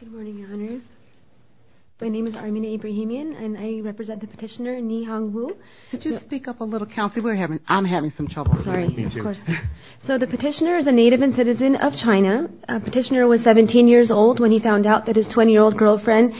Good morning, Your Honors. My name is Armina Ibrahimian, and I represent the petitioner, Ni Hong Wu. Could you speak up a little, Kelsey? I'm having some trouble here. Sorry, of course. So the petitioner is a native and citizen of China. The petitioner was 17 years old when he found out that his 20-year-old girlfriend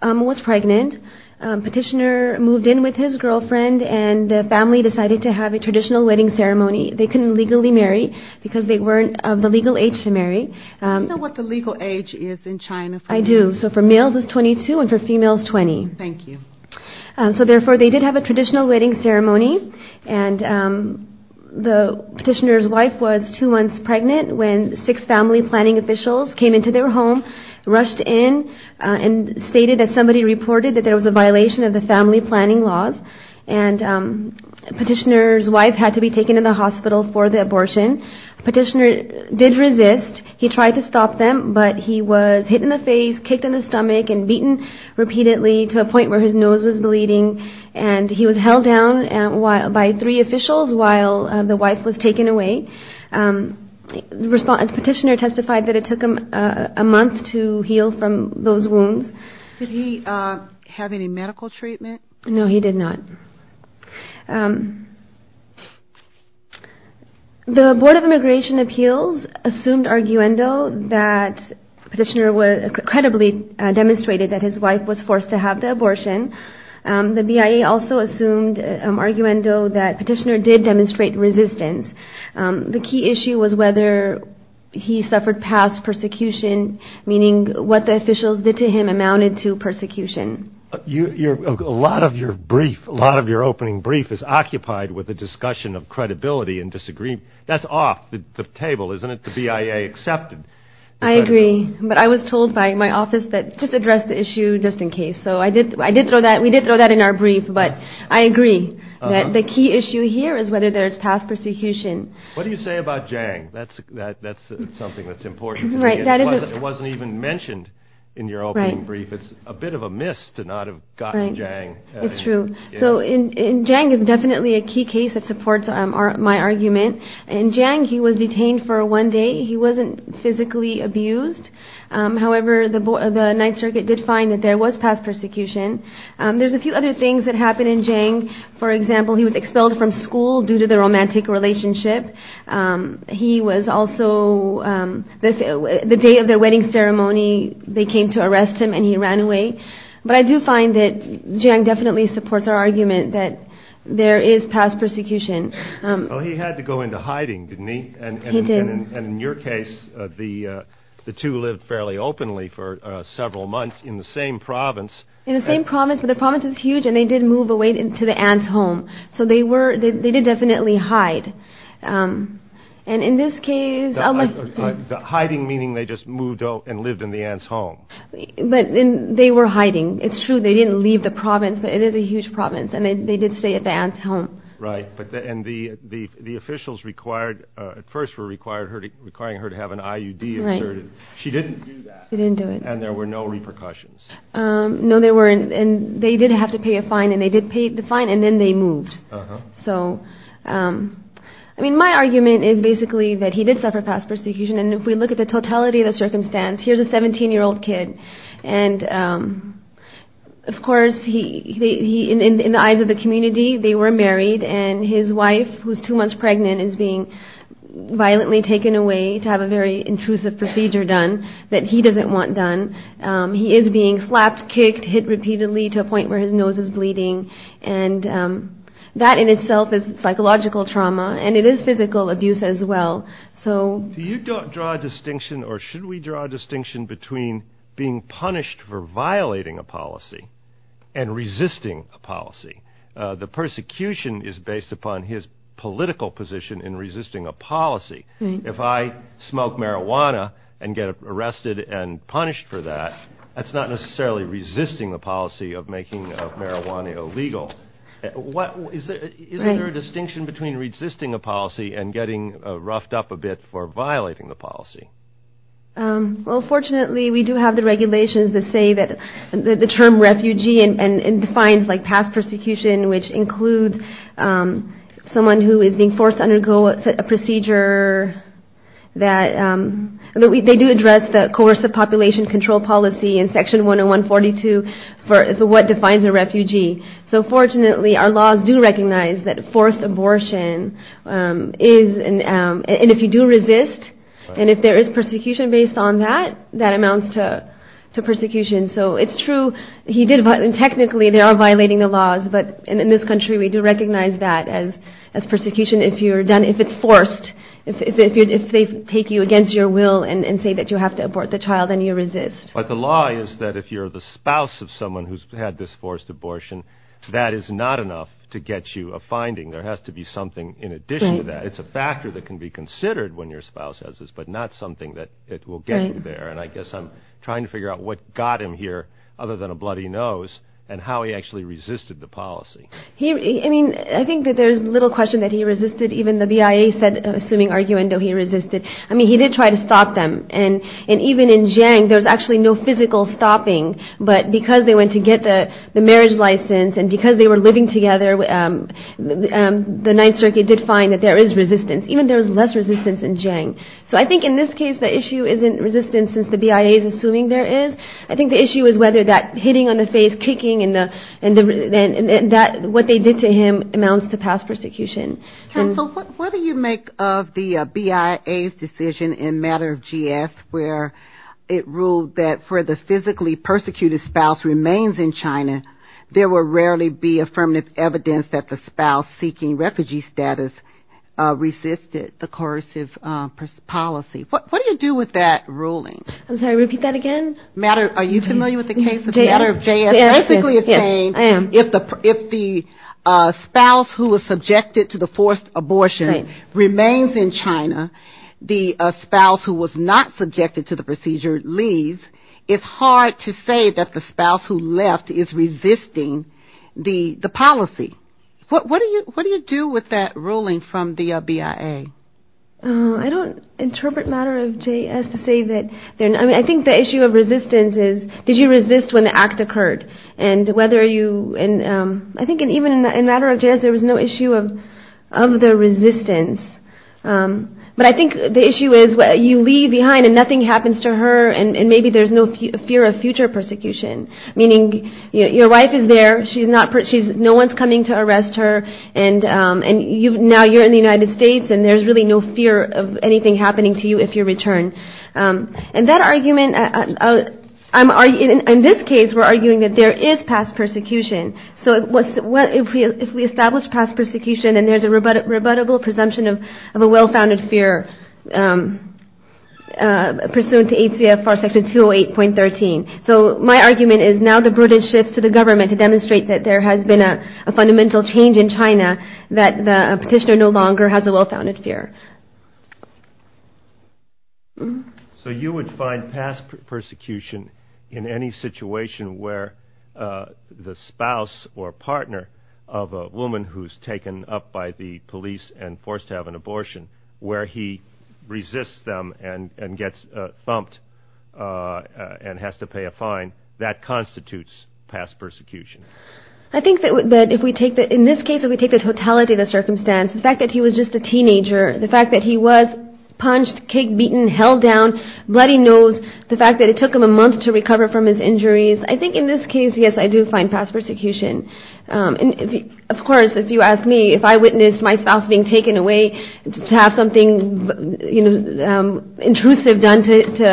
was pregnant. The petitioner moved in with his girlfriend, and the family decided to have a traditional wedding ceremony. They couldn't legally marry because they weren't of the legal age to marry. Do you know what the legal age is in China? I do. So for males, it's 22, and for females, 20. Thank you. So therefore, they did have a traditional wedding ceremony. And the petitioner's wife was two months pregnant when six family planning officials came into their home, rushed in, and stated that somebody reported that there was a violation of the family planning laws. And the petitioner's wife had to be taken to the hospital for the abortion. The petitioner did resist. He tried to stop them, but he was hit in the face, kicked in the stomach, and beaten repeatedly to a point where his nose was bleeding. And he was held down by three officials while the wife was taken away. The petitioner testified that it took him a month to heal from those wounds. Did he have any medical treatment? No, he did not. The Board of Immigration Appeals assumed arguendo that the petitioner credibly demonstrated that his wife was forced to have the abortion. The BIA also assumed arguendo that the petitioner did demonstrate resistance. The key issue was whether he suffered past persecution, meaning what the officials did to him amounted to persecution. A lot of your brief, a lot of your opening brief is occupied with a discussion of credibility and disagreement. That's off the table, isn't it? The BIA accepted. I agree, but I was told by my office that just address the issue just in case. So I did throw that. We did throw that in our brief, but I agree that the key issue here is whether there's past persecution. What do you say about Jang? That's something that's important to me. It wasn't even mentioned in your opening brief. It's a bit of a miss to not have gotten Jang. It's true. So Jang is definitely a key case that supports my argument. In Jang, he was detained for one day. He wasn't physically abused. However, the Ninth Circuit did find that there was past persecution. There's a few other things that happened in Jang. For example, he was expelled from school due to the romantic relationship. He was also, the day of their wedding ceremony, they came to arrest him and he ran away. But I do find that Jang definitely supports our argument that there is past persecution. Well, he had to go into hiding, didn't he? He did. And in your case, the two lived fairly openly for several months in the same province. In the same province, but the province is huge and they did move away to the aunt's home. So they did definitely hide. And in this case... Hiding meaning they just moved out and lived in the aunt's home. But they were hiding. It's true, they didn't leave the province, but it is a huge province and they did stay at the aunt's home. Right. And the officials at first were requiring her to have an IUD inserted. She didn't do that. She didn't do it. And there were no repercussions. No, there weren't. And they did have to pay a fine, and they did pay the fine, and then they moved. So, I mean, my argument is basically that he did suffer past persecution. And if we look at the totality of the circumstance, here's a 17-year-old kid. And, of course, in the eyes of the community, they were married. And his wife, who's two months pregnant, is being violently taken away to have a very intrusive procedure done that he doesn't want done. He is being slapped, kicked, hit repeatedly to a point where his nose is bleeding. And that in itself is psychological trauma, and it is physical abuse as well. Do you draw a distinction, or should we draw a distinction, between being punished for violating a policy and resisting a policy? The persecution is based upon his political position in resisting a policy. If I smoke marijuana and get arrested and punished for that, that's not necessarily resisting the policy of making marijuana illegal. Isn't there a distinction between resisting a policy and getting roughed up a bit for violating the policy? Well, fortunately, we do have the regulations that say that the term refugee defines past persecution, which includes someone who is being forced to undergo a procedure. They do address the coercive population control policy in Section 101-42 for what defines a refugee. So fortunately, our laws do recognize that forced abortion is, and if you do resist, and if there is persecution based on that, that amounts to persecution. So it's true, he did, and technically, they are violating the laws. But in this country, we do recognize that as persecution if you're done, if it's forced, if they take you against your will and say that you have to abort the child and you resist. But the law is that if you're the spouse of someone who's had this forced abortion, that is not enough to get you a finding. There has to be something in addition to that. It's a factor that can be considered when your spouse has this, but not something that will get you there. And I guess I'm trying to figure out what got him here, other than a bloody nose, and how he actually resisted the policy. I think that there's little question that he resisted. Even the BIA said, assuming arguendo, he resisted. I mean, he did try to stop them, and even in Jiang, there's actually no physical stopping. But because they went to get the marriage license, and because they were living together, the Ninth Circuit did find that there is resistance. Even there was less resistance in Jiang. So I think in this case, the issue isn't resistance since the BIA is assuming there is. I think the issue is whether that hitting on the face, kicking, and what they did to him amounts to past persecution. So what do you make of the BIA's decision in matter of GS, where it ruled that for the physically persecuted spouse remains in China, there will rarely be affirmative evidence that the spouse seeking refugee status resisted the coercive policy. What do you do with that ruling? I'm sorry, repeat that again? Are you familiar with the case of matter of JS? Yes, I am. If the spouse who was subjected to the forced abortion remains in China, the spouse who was not subjected to the procedure leaves, it's hard to say that the spouse who left is resisting the policy. What do you do with that ruling from the BIA? I don't interpret matter of JS to say that. I mean, I think the issue of resistance is did you resist when the act occurred? I think even in matter of JS there was no issue of the resistance. But I think the issue is you leave behind and nothing happens to her, and maybe there's no fear of future persecution. Meaning your wife is there, no one is coming to arrest her, and now you're in the United States and there's really no fear of anything happening to you if you return. And that argument, in this case we're arguing that there is past persecution. So if we establish past persecution and there's a rebuttable presumption of a well-founded fear pursuant to ACFR Section 208.13. So my argument is now the British shifts to the government to demonstrate that there has been a fundamental change in China, that the petitioner no longer has a well-founded fear. So you would find past persecution in any situation where the spouse or partner of a woman who's taken up by the police and forced to have an abortion, where he resists them and gets thumped and has to pay a fine, that constitutes past persecution? I think that if we take, in this case if we take the totality of the circumstance, the fact that he was just a teenager, the fact that he was punched, kicked, beaten, held down, bloody-nosed, the fact that it took him a month to recover from his injuries, I think in this case, yes, I do find past persecution. Of course, if you ask me if I witnessed my spouse being taken away to have something intrusive done to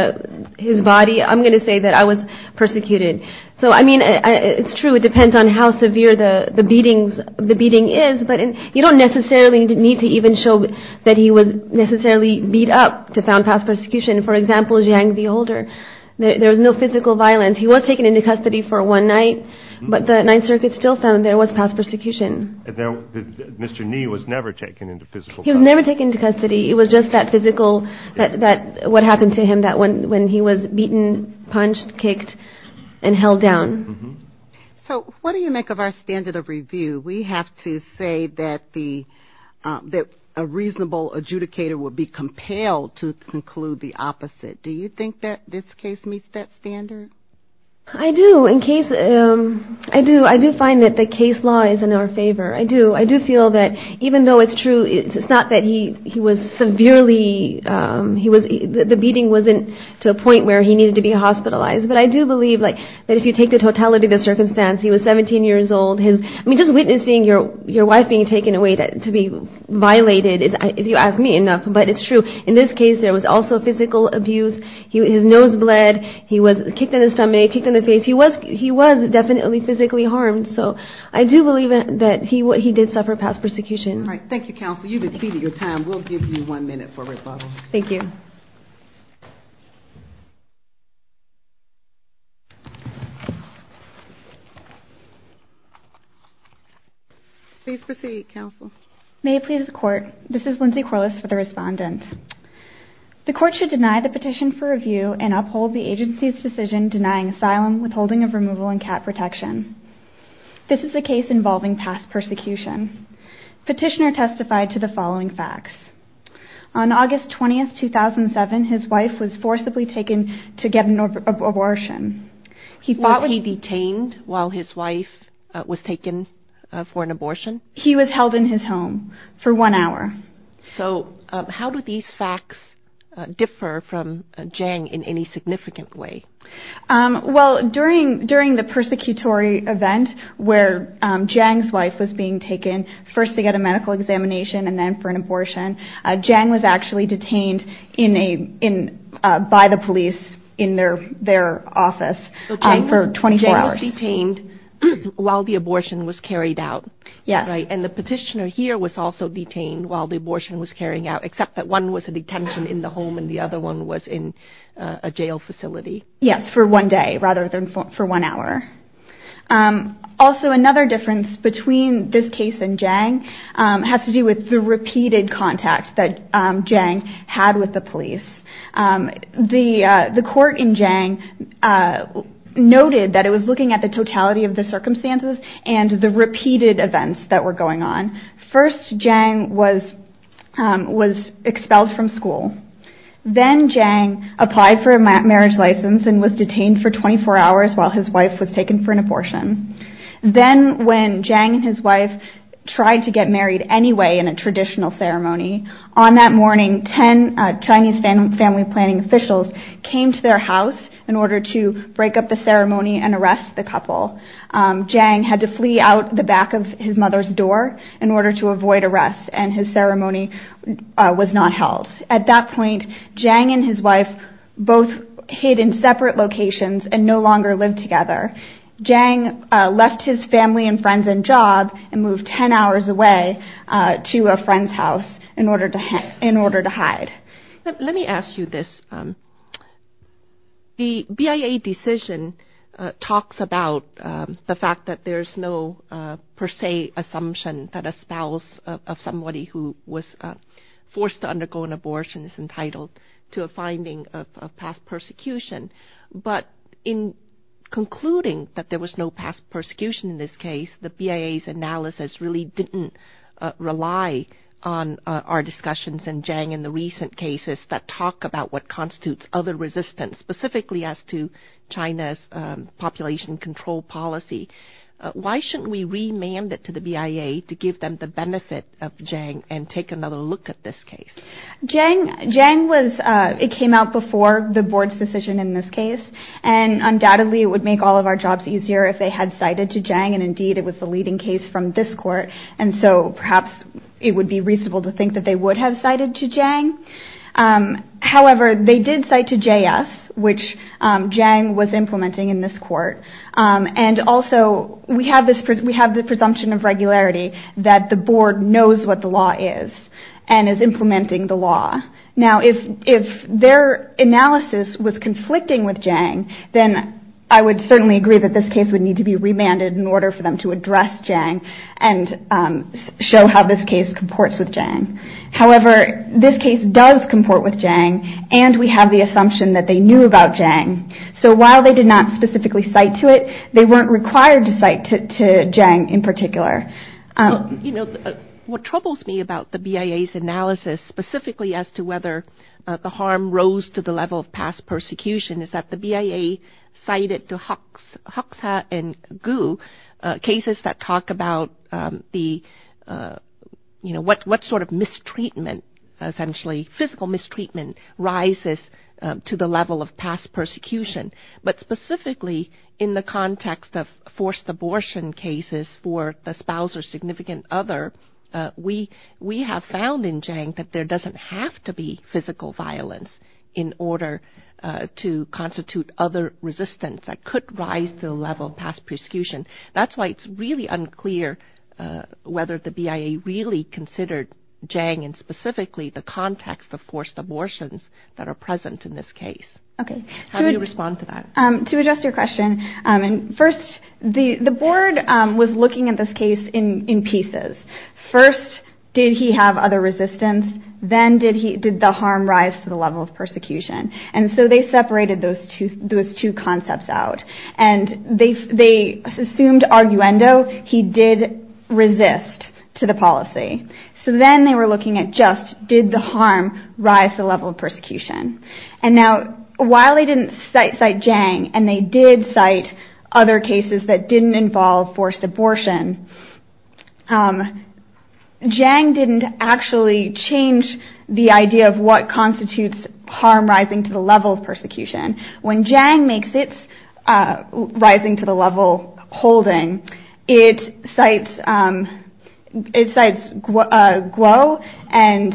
his body, I'm going to say that I was persecuted. So I mean, it's true, it depends on how severe the beating is, but you don't necessarily need to even show that he was necessarily beat up to found past persecution. For example, Jiang the older, there was no physical violence. He was taken into custody for one night, but the Ninth Circuit still found there was past persecution. Mr. Ni was never taken into physical custody. He was never taken into custody. It was just that physical, what happened to him when he was beaten, punched, kicked, and held down. So what do you make of our standard of review? We have to say that a reasonable adjudicator would be compelled to conclude the opposite. Do you think that this case meets that standard? I do. I do find that the case law is in our favor. I do. I do feel that even though it's true, it's not that he was severely, the beating wasn't to a point where he needed to be hospitalized, but I do believe that if you take the totality of the circumstance, he was 17 years old. I mean, just witnessing your wife being taken away to be violated, if you ask me enough, but it's true. In this case, there was also physical abuse. His nose bled. He was kicked in the stomach, kicked in the face. He was definitely physically harmed. So I do believe that he did suffer past persecution. All right. Thank you, Counsel. You've exceeded your time. We'll give you one minute for rebuttal. Thank you. Please proceed, Counsel. May it please the Court, this is Lindsay Corliss for the Respondent. The Court should deny the petition for review and uphold the agency's decision denying asylum, withholding of removal, and cat protection. This is a case involving past persecution. Petitioner testified to the following facts. On August 20, 2007, his wife was forcibly taken to get an abortion. Was he detained while his wife was taken for an abortion? He was held in his home for one hour. So how do these facts differ from Jang in any significant way? Well, during the persecutory event where Jang's wife was being taken, first to get a medical examination and then for an abortion, Jang was actually detained by the police in their office for 24 hours. So Jang was detained while the abortion was carried out. Yes. And the petitioner here was also detained while the abortion was carrying out, except that one was a detention in the home and the other one was in a jail facility. Yes, for one day rather than for one hour. Also, another difference between this case and Jang has to do with the repeated contact that Jang had with the police. The court in Jang noted that it was looking at the totality of the circumstances and the repeated events that were going on. First, Jang was expelled from school. Then Jang applied for a marriage license and was detained for 24 hours while his wife was taken for an abortion. Then when Jang and his wife tried to get married anyway in a traditional ceremony, on that morning, 10 Chinese family planning officials came to their house in order to break up the ceremony and arrest the couple. Jang had to flee out the back of his mother's door in order to avoid arrest, and his ceremony was not held. At that point, Jang and his wife both hid in separate locations and no longer lived together. Jang left his family and friends and job and moved 10 hours away to a friend's house in order to hide. Let me ask you this. The BIA decision talks about the fact that there's no per se assumption that a spouse of somebody who was forced to undergo an abortion is entitled to a finding of past persecution. But in concluding that there was no past persecution in this case, the BIA's analysis really didn't rely on our discussions in Jang in the recent cases that talk about what constitutes other resistance, specifically as to China's population control policy. Why shouldn't we remand it to the BIA to give them the benefit of Jang and take another look at this case? It came out before the board's decision in this case, and undoubtedly it would make all of our jobs easier if they had cited to Jang, and indeed it was the leading case from this court, and so perhaps it would be reasonable to think that they would have cited to Jang. However, they did cite to JS, which Jang was implementing in this court, and also we have the presumption of regularity that the board knows what the law is and is implementing the law. Now, if their analysis was conflicting with Jang, then I would certainly agree that this case would need to be remanded in order for them to address Jang and show how this case comports with Jang. However, this case does comport with Jang, and we have the assumption that they knew about Jang. So while they did not specifically cite to it, they weren't required to cite to Jang in particular. What troubles me about the BIA's analysis, specifically as to whether the harm rose to the level of past persecution, is that the BIA cited to Huxha and Gu cases that talk about what sort of mistreatment, essentially physical mistreatment, rises to the level of past persecution. But specifically in the context of forced abortion cases for the spouse or significant other, we have found in Jang that there doesn't have to be physical violence in order to constitute other resistance that could rise to the level of past persecution. That's why it's really unclear whether the BIA really considered Jang and specifically the context of forced abortions that are present in this case. How do you respond to that? To address your question, first, the board was looking at this case in pieces. First, did he have other resistance? Then, did the harm rise to the level of persecution? And so they separated those two concepts out. They assumed, arguendo, he did resist to the policy. So then they were looking at just, did the harm rise to the level of persecution? While they didn't cite Jang, and they did cite other cases that didn't involve forced abortion, Jang didn't actually change the idea of what constitutes harm rising to the level of persecution. When Jang makes its rising to the level holding, it cites Guo and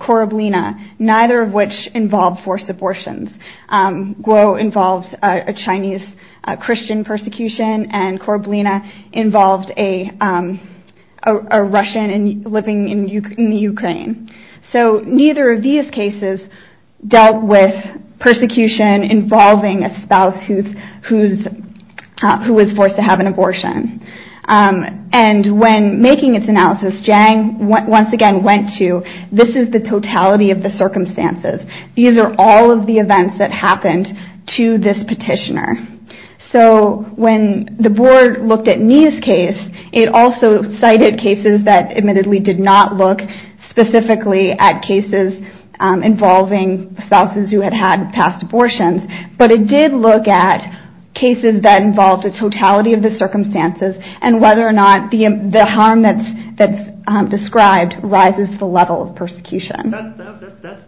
Koroblina, neither of which involved forced abortions. Guo involved a Chinese Christian persecution, and Koroblina involved a Russian living in Ukraine. So neither of these cases dealt with persecution involving a spouse who was forced to have an abortion. And when making its analysis, Jang once again went to, this is the totality of the circumstances. These are all of the events that happened to this petitioner. So when the board looked at Nia's case, it also cited cases that admittedly did not look specifically at cases involving spouses who had had past abortions. But it did look at cases that involved the totality of the circumstances and whether or not the harm that's described rises to the level of persecution.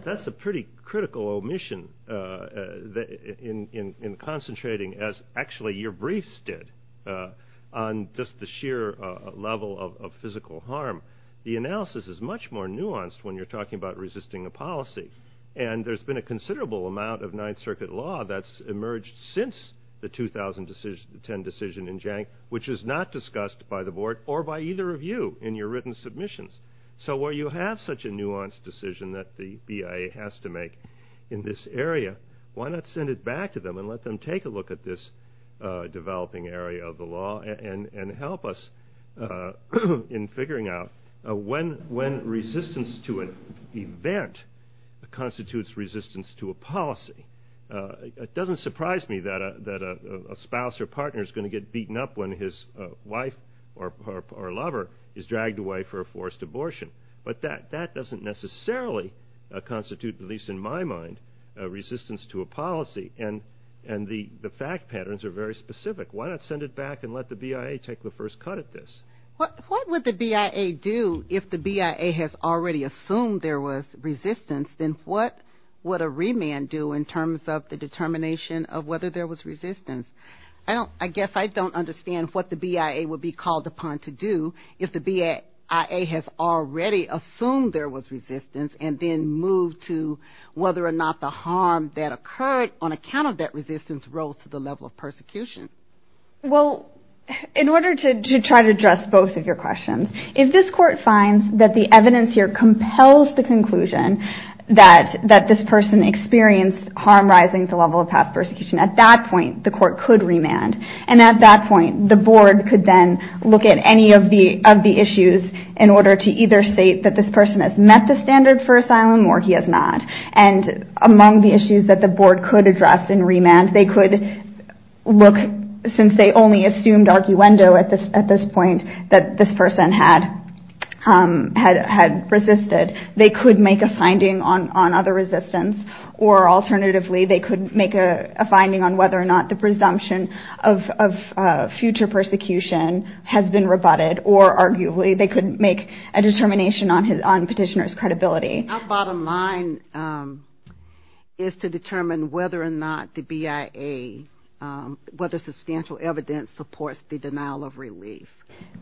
That's a pretty critical omission in concentrating, as actually your briefs did, on just the sheer level of physical harm. The analysis is much more nuanced when you're talking about resisting a policy. And there's been a considerable amount of Ninth Circuit law that's emerged since the 2010 decision in Jang, which is not discussed by the board or by either of you in your written submissions. So where you have such a nuanced decision that the BIA has to make in this area, why not send it back to them and let them take a look at this developing area of the law and help us in figuring out when resistance to an event constitutes resistance to a policy. It doesn't surprise me that a spouse or partner is going to get beaten up when his wife or lover is dragged away for a forced abortion. But that doesn't necessarily constitute, at least in my mind, resistance to a policy. And the fact patterns are very specific. Why not send it back and let the BIA take the first cut at this? What would the BIA do if the BIA has already assumed there was resistance? Then what would a remand do in terms of the determination of whether there was resistance? I guess I don't understand what the BIA would be called upon to do if the BIA has already assumed there was resistance and then moved to whether or not the harm that occurred on account of that resistance rose to the level of persecution. Well, in order to try to address both of your questions, if this Court finds that the evidence here compels the conclusion that this person experienced harm rising to the level of past persecution, at that point the Court could remand. And at that point the Board could then look at any of the issues in order to either state that this person has met the standard for asylum or he has not. And among the issues that the Board could address in remand, they could look, since they only assumed arguendo at this point, that this person had resisted, they could make a finding on other resistance. Or alternatively, they could make a finding on whether or not the presumption of future persecution has been rebutted. Or arguably, they could make a determination on petitioner's credibility. Our bottom line is to determine whether or not the BIA, whether substantial evidence supports the denial of relief.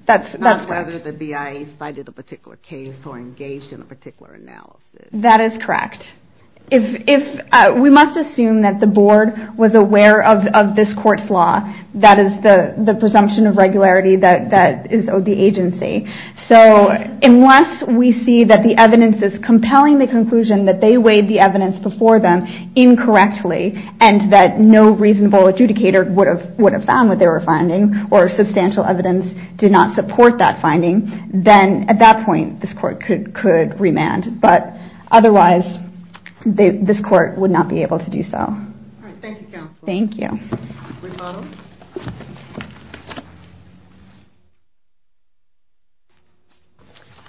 That's correct. Not whether the BIA cited a particular case or engaged in a particular analysis. That is correct. We must assume that the Board was aware of this Court's law. That is the presumption of regularity that is owed the agency. So unless we see that the evidence is compelling the conclusion that they weighed the evidence before them incorrectly and that no reasonable adjudicator would have found what they were finding or substantial evidence did not support that finding, then at that point this Court could remand. But otherwise, this Court would not be able to do so. All right. Thank you, Counsel. Thank you.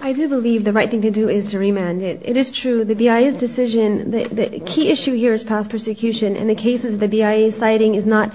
I do believe the right thing to do is to remand it. It is true the BIA's decision, the key issue here is past persecution and the cases the BIA is citing is not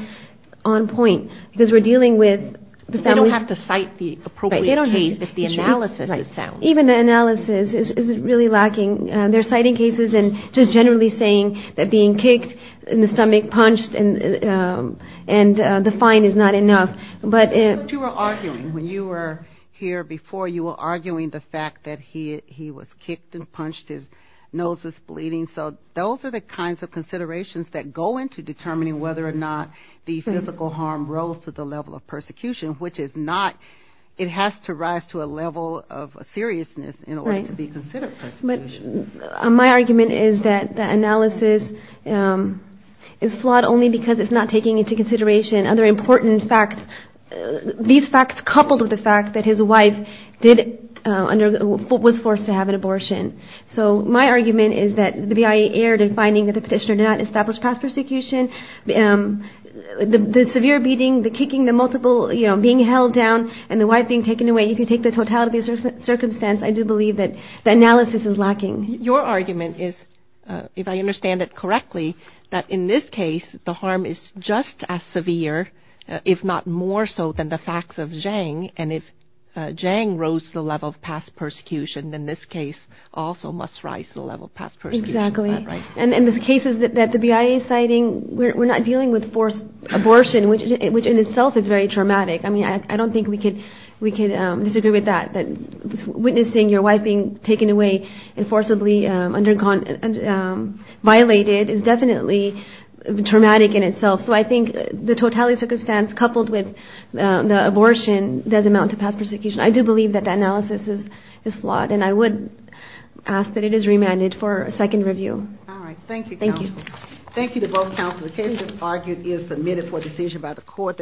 on point because we're dealing with the family. They don't have to cite the appropriate case if the analysis is sound. Even the analysis is really lacking. They're citing cases and just generally saying that being kicked in the stomach, punched, and the fine is not enough. But you were arguing when you were here before, you were arguing the fact that he was kicked and punched, his nose was bleeding. So those are the kinds of considerations that go into determining whether or not the physical harm rose to the level of persecution, which is not. It has to rise to a level of seriousness in order to be considered persecution. My argument is that the analysis is flawed only because it's not taking into consideration other important facts, these facts coupled with the fact that his wife was forced to have an abortion. So my argument is that the BIA erred in finding that the petitioner did not establish past persecution. The severe beating, the kicking, the multiple being held down, and the wife being taken away, if you take the totality of the circumstance, I do believe that the analysis is lacking. Your argument is, if I understand it correctly, that in this case the harm is just as severe, if not more so than the facts of Zhang. And if Zhang rose to the level of past persecution, then this case also must rise to the level of past persecution. Exactly. And in the cases that the BIA is citing, we're not dealing with forced abortion, which in itself is very traumatic. I mean, I don't think we could disagree with that, that witnessing your wife being taken away and forcibly violated is definitely traumatic in itself. So I think the totality of the circumstance coupled with the abortion does amount to past persecution. I do believe that the analysis is flawed. And I would ask that it is remanded for a second review. All right. Thank you, counsel. Thank you. Thank you to both counsel. The case as argued is submitted for decision by the court.